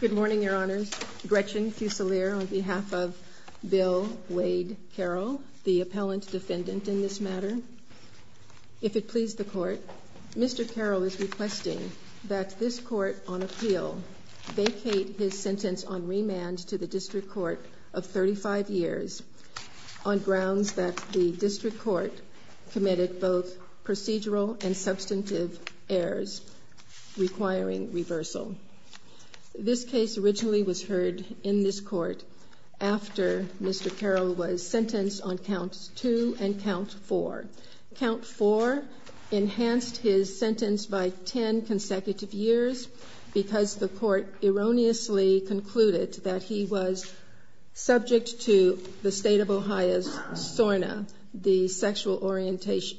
Good morning, Your Honors. Gretchen Fusilier on behalf of Bill Wade Carroll, the Appellant Defendant in this matter. If it please the Court, Mr. Carroll is requesting that this Court on appeal vacate his sentence on remand to the District Court of 35 years on grounds that the District Court committed both procedural and substantive errors requiring reversal. This case originally was heard in this Court after Mr. Carroll was sentenced on Count 2 and Count 4. Count 4 enhanced his sentence by 10 consecutive years because the Court erroneously concluded that he was subject to the state of Ohio's SORNA, the Sexual Orientation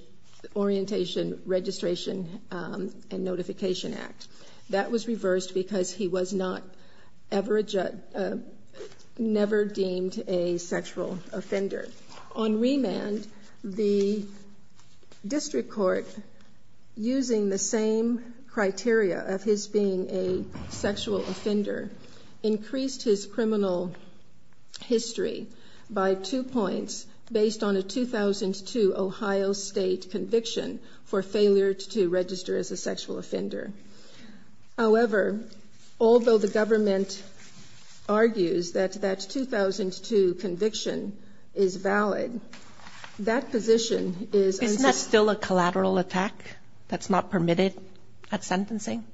Registration and Notification Act. That was reversed because he was not ever deemed a sexual offender. On remand, the District Court, using the same criteria of his being a sexual offender, increased his criminal history by two points based on a 2002 Ohio state conviction for failure to register as a sexual offender. However, although the government argues that that 2002 conviction is valid, that position is unsecured. Isn't that still a collateral attack that's not permitted at sentencing?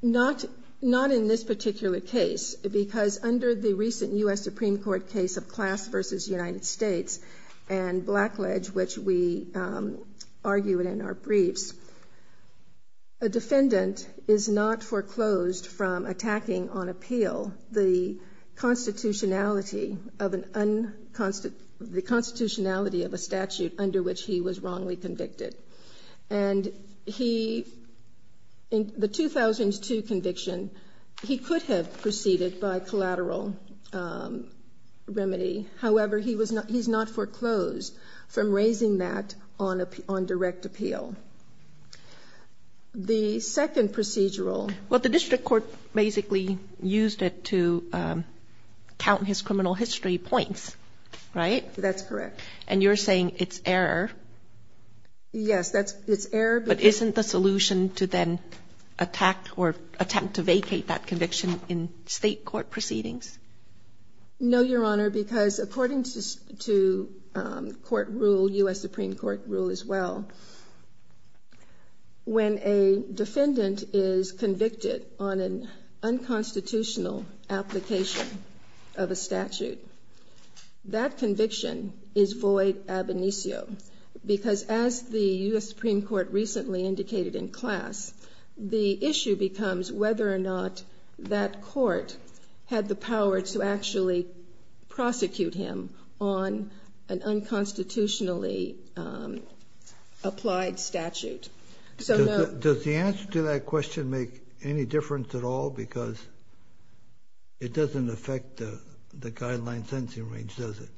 Not in this particular case, because under the recent U.S. Supreme Court case of Class v. United States and Blackledge, which we argue in our briefs, a defendant is not foreclosed from attacking on appeal the constitutionality of a statute under which he was wrongly convicted. And he, in the 2002 conviction, he could have proceeded by collateral remedy. However, he's not foreclosed from raising that on direct appeal. The second procedural... Well, the District Court basically used it to count his criminal history points, right? That's correct. And you're saying it's error? Yes, it's error. But isn't the solution to then attack or attempt to vacate that conviction in state court proceedings? No, Your Honor, because according to court rule, U.S. Supreme Court rule as well, when a defendant is convicted on an unconstitutional application of a statute, that conviction is void ab initio, because as the U.S. Supreme Court recently indicated in Class, the issue becomes whether or not that court had the power to actually prosecute him on an unconstitutionally applied statute. Does the answer to that question make any difference at all? Because it doesn't affect the guideline sentencing range, does it?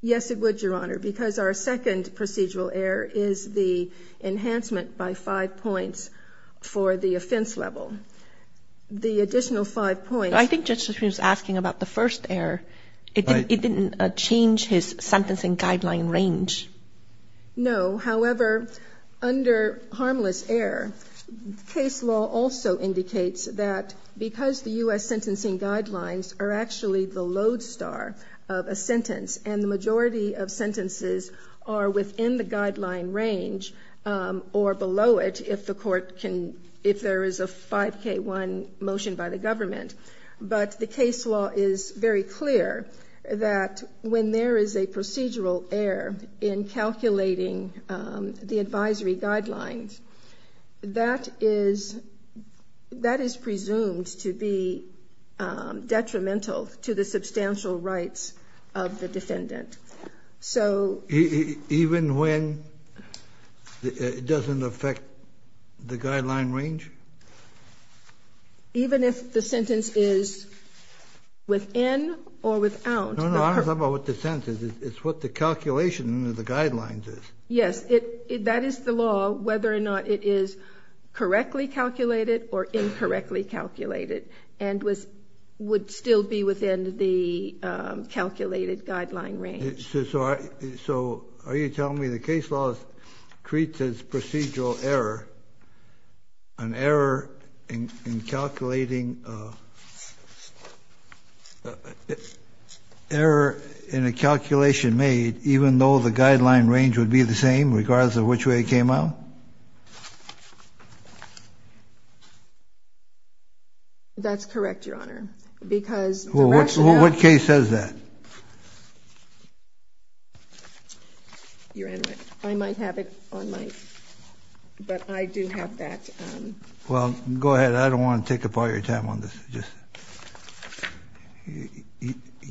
Yes, it would, Your Honor, because our second procedural error is the enhancement by five points for the offense level. The additional five points... I think Justice Kagan was asking about the first error. It didn't change his sentencing guideline range. No. However, under harmless error, case law also indicates that because the U.S. sentencing guidelines are actually the lodestar of a sentence, and the majority of sentences are within the guideline range or below it if there is a 5K1 motion by the government. But the case law is very clear that when there is a procedural error in calculating the advisory guidelines, that is presumed to be detrimental to the substantial rights of the defendant. So... Even when it doesn't affect the guideline range? Even if the sentence is within or without... No, no. I don't know about what the sentence is. It's what the calculation of the guidelines is. Yes. That is the law, whether or not it is correctly calculated or incorrectly calculated and would still be within the calculated guideline range. So are you telling me the case law creates this procedural error, an error in calculating... Regardless of which way it came out? That's correct, Your Honor. Because the rationale... What case says that? Your Honor, I might have it on my... But I do have that... Well, go ahead. I don't want to take up all your time on this. Just...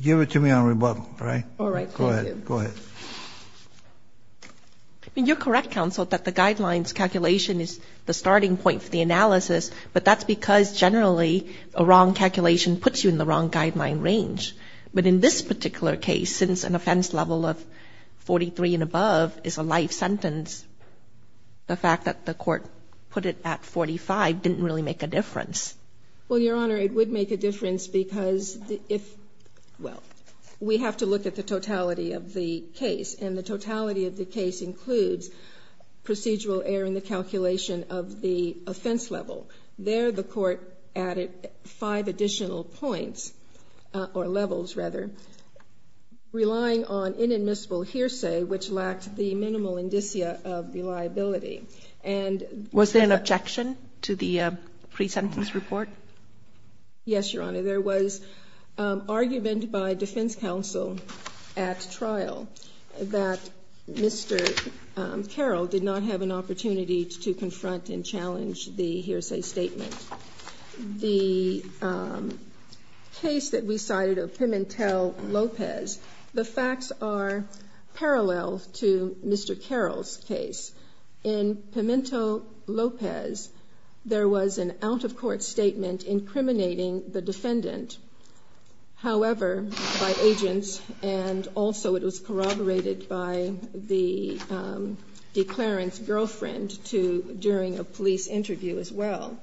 Give it to me on rebuttal, all right? All right. Thank you. Go ahead. Go ahead. I mean, you're correct, counsel, that the guidelines calculation is the starting point for the analysis, but that's because generally a wrong calculation puts you in the wrong guideline range. But in this particular case, since an offense level of 43 and above is a life sentence, the fact that the court put it at 45 didn't really make a difference. Well, Your Honor, it would make a difference because if... Well, we have to look at the procedural error in the calculation of the offense level. There, the court added five additional points, or levels, rather, relying on inadmissible hearsay, which lacked the minimal indicia of reliability. And... Was there an objection to the pre-sentence report? Yes, Your Honor. There was argument by defense counsel at trial that Mr. Carroll did not have an opportunity to confront and challenge the hearsay statement. The case that we cited of Pimentel Lopez, the facts are parallel to Mr. Carroll's case. In Pimentel Lopez, there was an out-of-court statement incriminating the defendant, however, by agents, and also it was corroborated by the declarant's girlfriend during a police interview as well.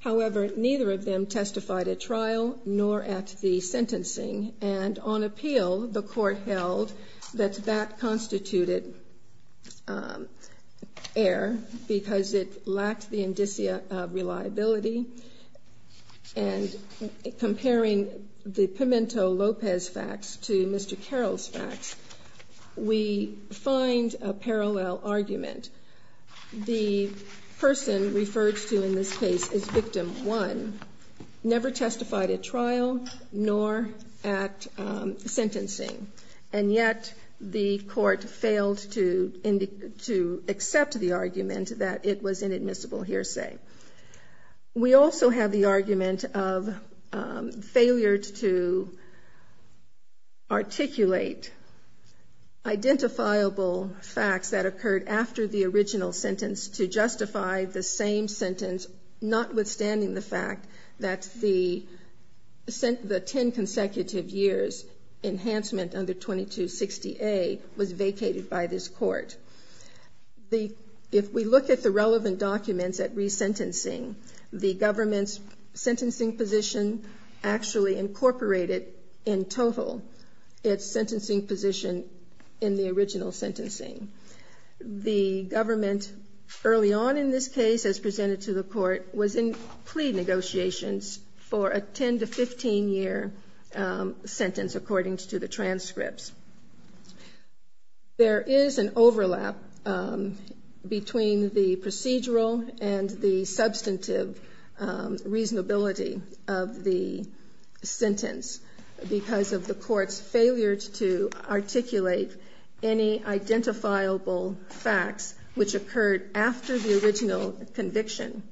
However, neither of them testified at trial nor at the sentencing, and on appeal, the court held that that constituted error because it lacked the indicia of reliability. And comparing the Pimentel Lopez facts to Mr. Carroll's facts, we find a parallel argument. The person referred to in this case is victim one, never testified at sentencing, and yet the court failed to accept the argument that it was inadmissible hearsay. We also have the argument of failure to articulate identifiable facts that occurred after the original sentence to justify the same sentence, notwithstanding the fact that the 10 consecutive years' enhancement under 2260A was vacated by this court. If we look at the relevant documents at resentencing, the government's sentencing position actually incorporated in total its sentencing position in the original sentencing. The government, early on in this case, as presented to the court, was in plea negotiations for a 10 to 15-year sentence according to the transcripts. There is an overlap between the procedural and the substantive reasonability of the sentence because of the court's failure to articulate identifiable facts which occurred after the original conviction,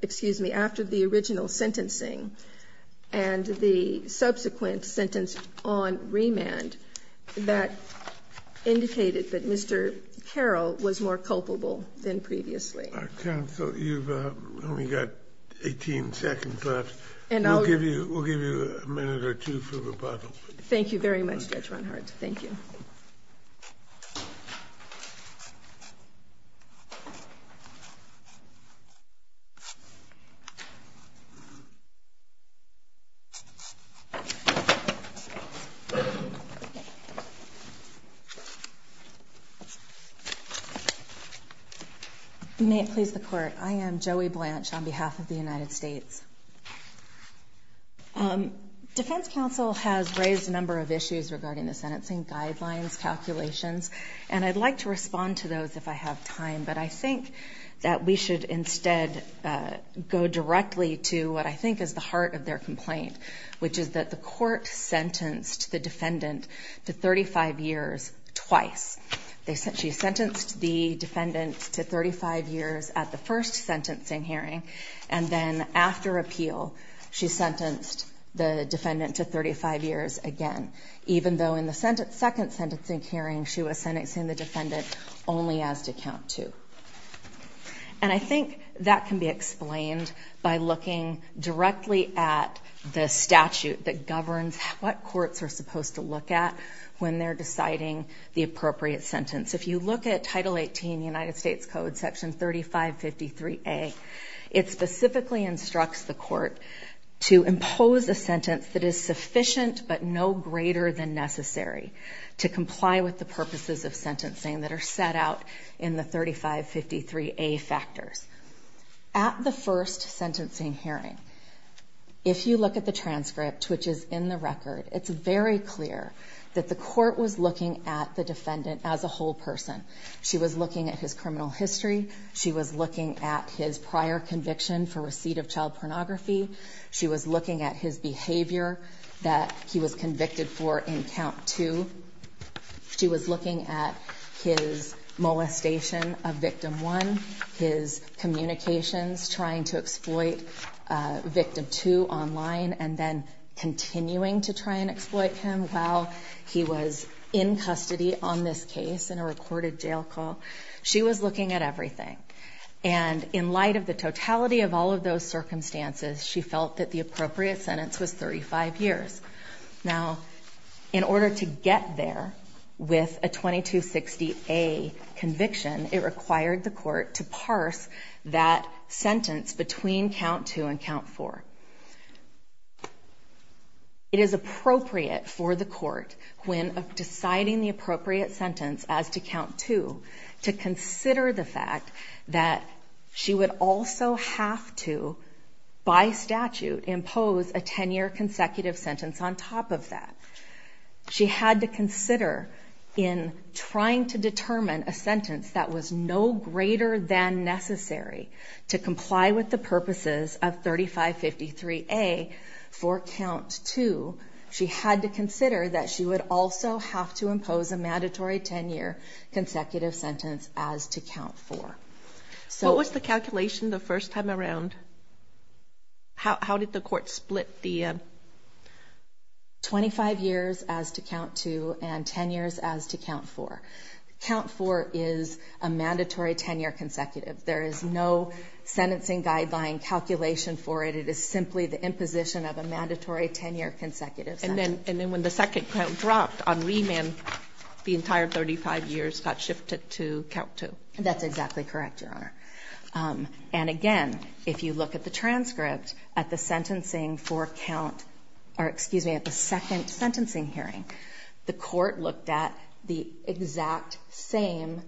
excuse me, after the original sentencing and the subsequent sentence on remand that indicated that Mr. Carroll was more culpable than previously. Our counsel, you've only got 18 seconds left. And I'll give you, we'll give you a minute or two for rebuttal. Thank you very much, Judge Ronhart. Thank you. You may please the court. I am Joey Blanche on behalf of the United States. Defense counsel has raised a number of issues regarding the sentencing guidelines, calculations, and I'd like to respond to those if I have time. But I think that we should instead go directly to what I think is the heart of their complaint, which is that the court sentenced the defendant to 35 years twice. They sent, she sentenced the defendant to 35 years at the first sentencing hearing, and then after appeal, she sentenced the defendant to 35 years again, even though in the second sentencing hearing, she was sentencing the defendant only as to count two. And I think that can be explained by looking directly at the statute that governs what courts are supposed to look at when they're deciding the appropriate sentence. If you look at Title 18 United States Code, Section 3553A, it specifically instructs the court to impose a sentence that is sufficient but no greater than necessary to comply with the purposes of sentencing that are set out in the 3553A factors. At the first sentencing hearing, if you look at the transcript, which is in the record, it's very clear that the court was looking at the defendant as a whole person. She was looking at his criminal history. She was looking at his prior conviction for receipt of child pornography. She was looking at his behavior that he was convicted for in count two. She was looking at his molestation of victim one, his communications, trying to exploit victim two online, and then continuing to try and exploit him while he was in custody on this case in a recorded jail call. She was looking at everything. And in light of the totality of all of those circumstances, she felt that the appropriate sentence was 35 years. Now, in order to get there with a 2260A conviction, it required the court to parse that sentence between count two and count four. It is appropriate for the court, when deciding the appropriate sentence as to count two, to consider the fact that she would also have to, by statute, impose a 10-year consecutive sentence on top of that. She had to consider, in trying to determine a sentence that was no greater than necessary to comply with the purposes of 3553A for count two, she had to consider that she would also have to impose a mandatory 10-year consecutive sentence as to count four. So... What was the calculation the first time around? How did the court split the... 25 years as to count two and 10 years as to count four? Count four is a mandatory 10-year consecutive. There is no sentencing guideline calculation for it. It is simply the imposition of a mandatory 10-year consecutive sentence. And then when the second count dropped on remand, the entire 35 years got shifted to count two. That's exactly correct, Your Honor. And again, if you look at the transcript, at the sentencing for count... Or excuse me, at the second sentencing hearing, the court looked at the exact same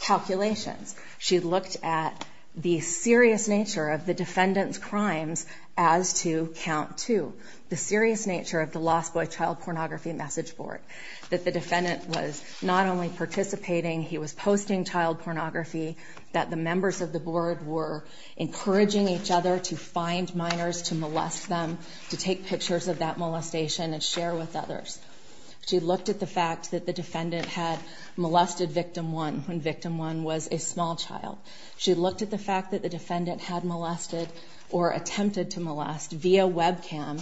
calculations. She looked at the serious nature of the defendant's crimes as to count two, the serious nature of the Lost Boy Child Pornography Message Board, that the defendant was not only participating, he was posting child pornography, that the members of the board were encouraging each other to find minors, to molest them, to take pictures of that molestation and share with others. She looked at the fact that the defendant had molested victim one when victim one was a small child. She looked at the fact that the defendant had molested or attempted to molest, via webcam,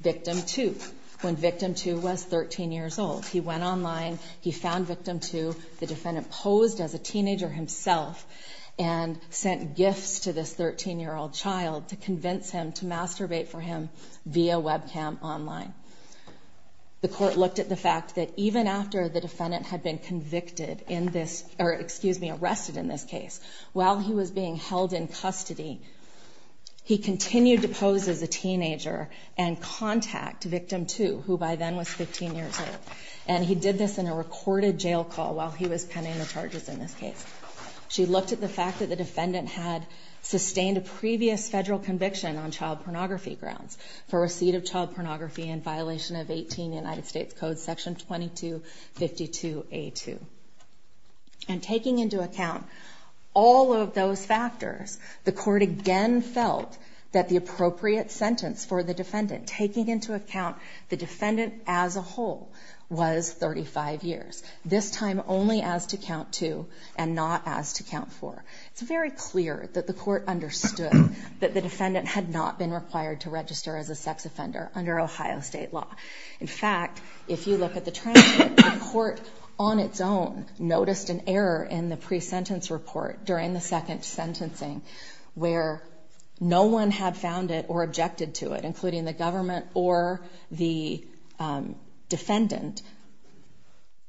victim two, when victim two was 13 years old. He went online, he found victim two. The defendant posed as a teenager himself and sent gifts to this 13-year-old child to convince him to masturbate for him via webcam online. The court looked at the fact that even after the defendant had been convicted in this... Or excuse me, arrested in this case, while he was being held in custody, he continued to pose as a teenager and contact victim two, who by then was 15 years old. And he did this in a recorded jail call while he was pending the charges in this case. She looked at the fact that the defendant had sustained a previous federal conviction on child pornography grounds for receipt of child pornography in violation of 18 United States Code, section 2252A2. And taking into account all of those factors, the court again felt that the appropriate sentence for the defendant, taking into account the defendant as a whole, was 35 years. This time only as to count two and not as to count four. It's very clear that the court understood that the defendant had not been required to register as a sex offender under Ohio State law. In fact, if you look at the transcript, the court on its own noticed an error in the pre-sentence report during the second sentencing, where no one had found it or objected to it, including the government or the defendant,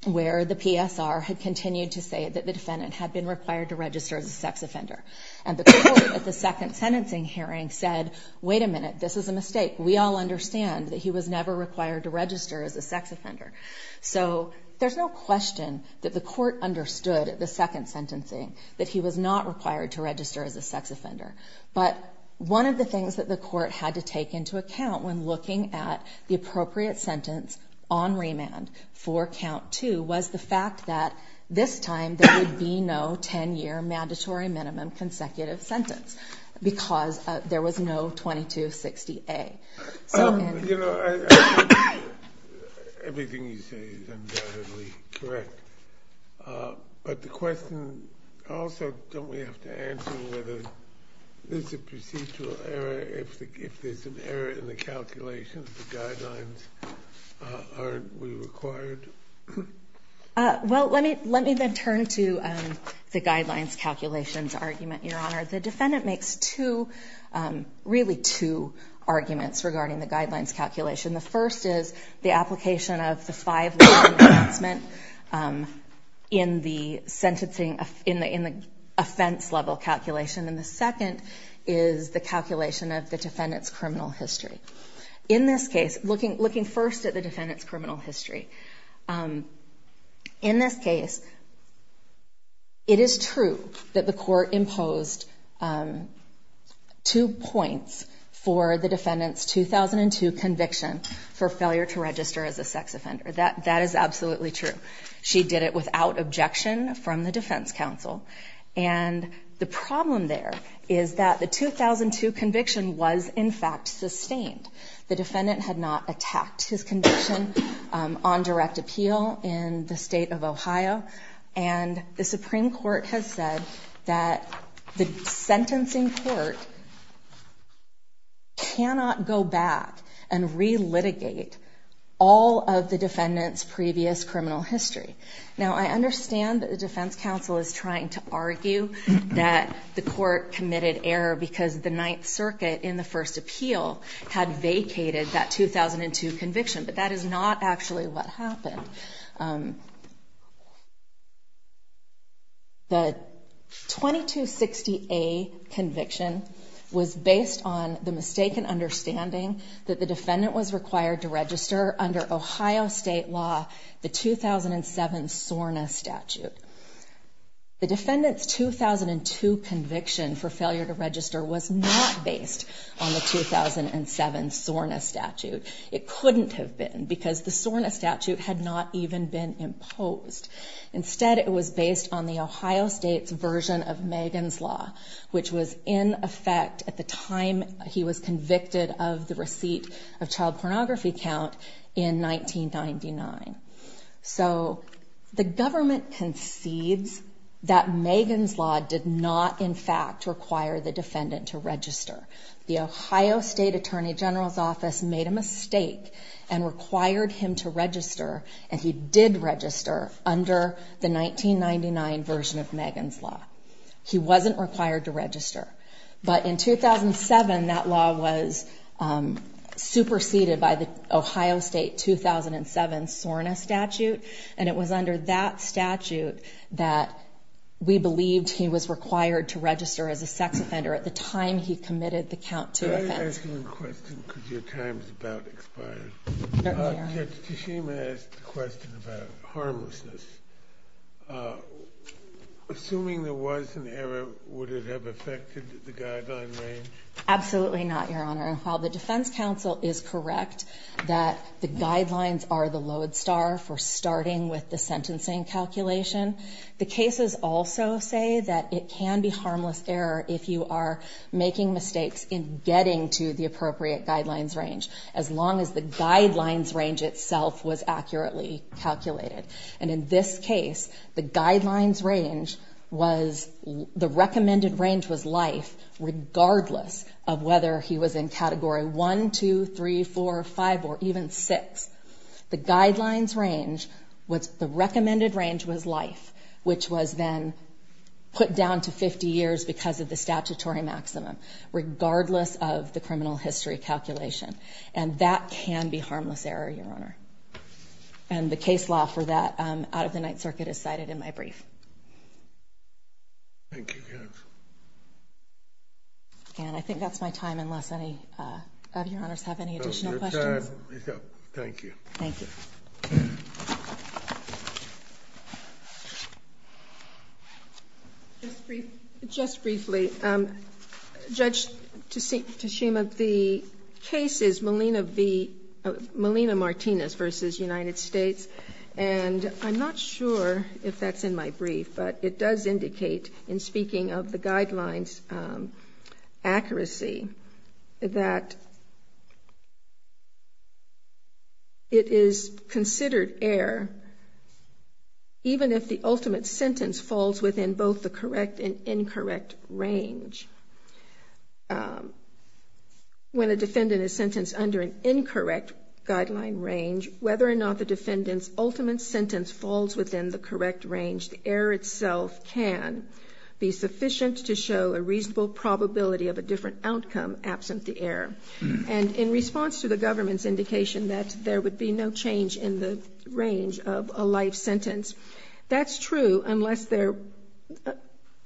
where the PSR had continued to say that the defendant had been required to register as a sex offender. And the court at the second sentencing hearing said, wait a minute, this is a mistake. We all understand that he was never required to register as a sex offender. So there's no question that the court understood at the second sentencing that he was not required to register as a sex offender. But one of the things that the court had to take into account when looking at the appropriate sentence on remand for count two was the fact that this time there would be no 10-year mandatory minimum consecutive sentence because there was no 2260A. So, and- You know, everything you say is undoubtedly correct. But the question also, don't we have to answer whether there's a procedural error if there's an error in the calculation of the guidelines? Aren't we required? Well, let me then turn to the guidelines calculations argument, Your Honor. The defendant makes two, really two arguments regarding the guidelines calculation. The first is the application of the five-level advancement in the sentencing, in the offense-level calculation. And the second is the calculation of the defendant's criminal history. In this case, looking first at the defendant's criminal history, in this case, it is true that the court imposed two points for the defendant's 2002 conviction for failure to register as a sex offender. That is absolutely true. She did it without objection from the defense counsel. And the problem there is that the 2002 conviction was, in fact, sustained. The defendant had not attacked his conviction on direct appeal in the state of Ohio. And the Supreme Court has said that the sentencing court cannot go back and relitigate all of the defendant's previous criminal history. Now, I understand that the defense counsel is trying to argue that the court committed error because the Ninth Circuit in the first appeal had vacated that 2002 conviction. But that is not actually what happened. The 2260A conviction was based on the mistaken understanding that the defendant was required to register under Ohio state law, the 2007 SORNA statute. The defendant's 2002 conviction for failure to register was not based on the 2007 SORNA statute. It couldn't have been because the SORNA statute had not even been imposed. Instead, it was based on the Ohio State's version of Megan's Law, which was in effect at the time he was convicted of the receipt of child pornography count in 1999. So the government concedes that Megan's Law did not, in fact, require the defendant to register. The Ohio State Attorney General's Office made a mistake and required him to register. And he did register under the 1999 version of Megan's Law. He wasn't required to register. But in 2007, that law was superseded by the Ohio State 2007 SORNA statute. And it was under that statute that we believed he was required to register as a sex offender at the time he committed the count to offense. I was going to ask you a question because your time is about to expire. Certainly, Your Honor. Judge Teshima asked a question about harmlessness. Assuming there was an error, would it have affected the guideline range? Absolutely not, Your Honor. While the defense counsel is correct that the guidelines are the lodestar for starting with the sentencing calculation, the cases also say that it can be harmless error if you are making mistakes in getting to the appropriate guidelines range, as long as the guidelines range itself was accurately calculated. And in this case, the guidelines range was, the recommended range was life, regardless of whether he was in category one, two, three, four, five, or even six. The guidelines range was, the recommended range was life, which was then put down to 50 years because of the statutory maximum, regardless of the criminal history calculation. And that can be harmless error, Your Honor. And the case law for that out of the Ninth Circuit is cited in my brief. Thank you, Judge. And I think that's my time, unless any of Your Honors have any additional questions. Thank you. Thank you. Just briefly, Judge Tashima, the case is Melina V, Melina Martinez versus United States. And I'm not sure if that's in my brief, but it does indicate, in speaking of the guidelines accuracy, that it is considered error, even if the ultimate sentence falls within both the correct and incorrect range. When a defendant is sentenced under an incorrect guideline range, whether or not the defendant's ultimate sentence falls within the correct range, the error itself can be sufficient to show a reasonable probability of a different outcome absent the error. And in response to the government's indication that there would be no change in the range of a life sentence, that's true unless they're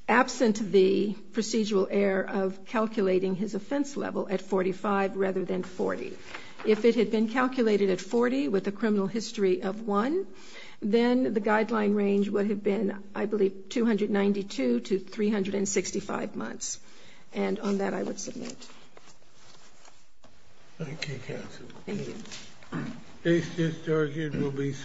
absent the procedural error of calculating his offense level at 45 rather than 40. If it had been calculated at 40 with a criminal history of one, then the guideline range would have been, I believe, 292 to 365 months. And on that, I would submit. Thank you, counsel. Thank you.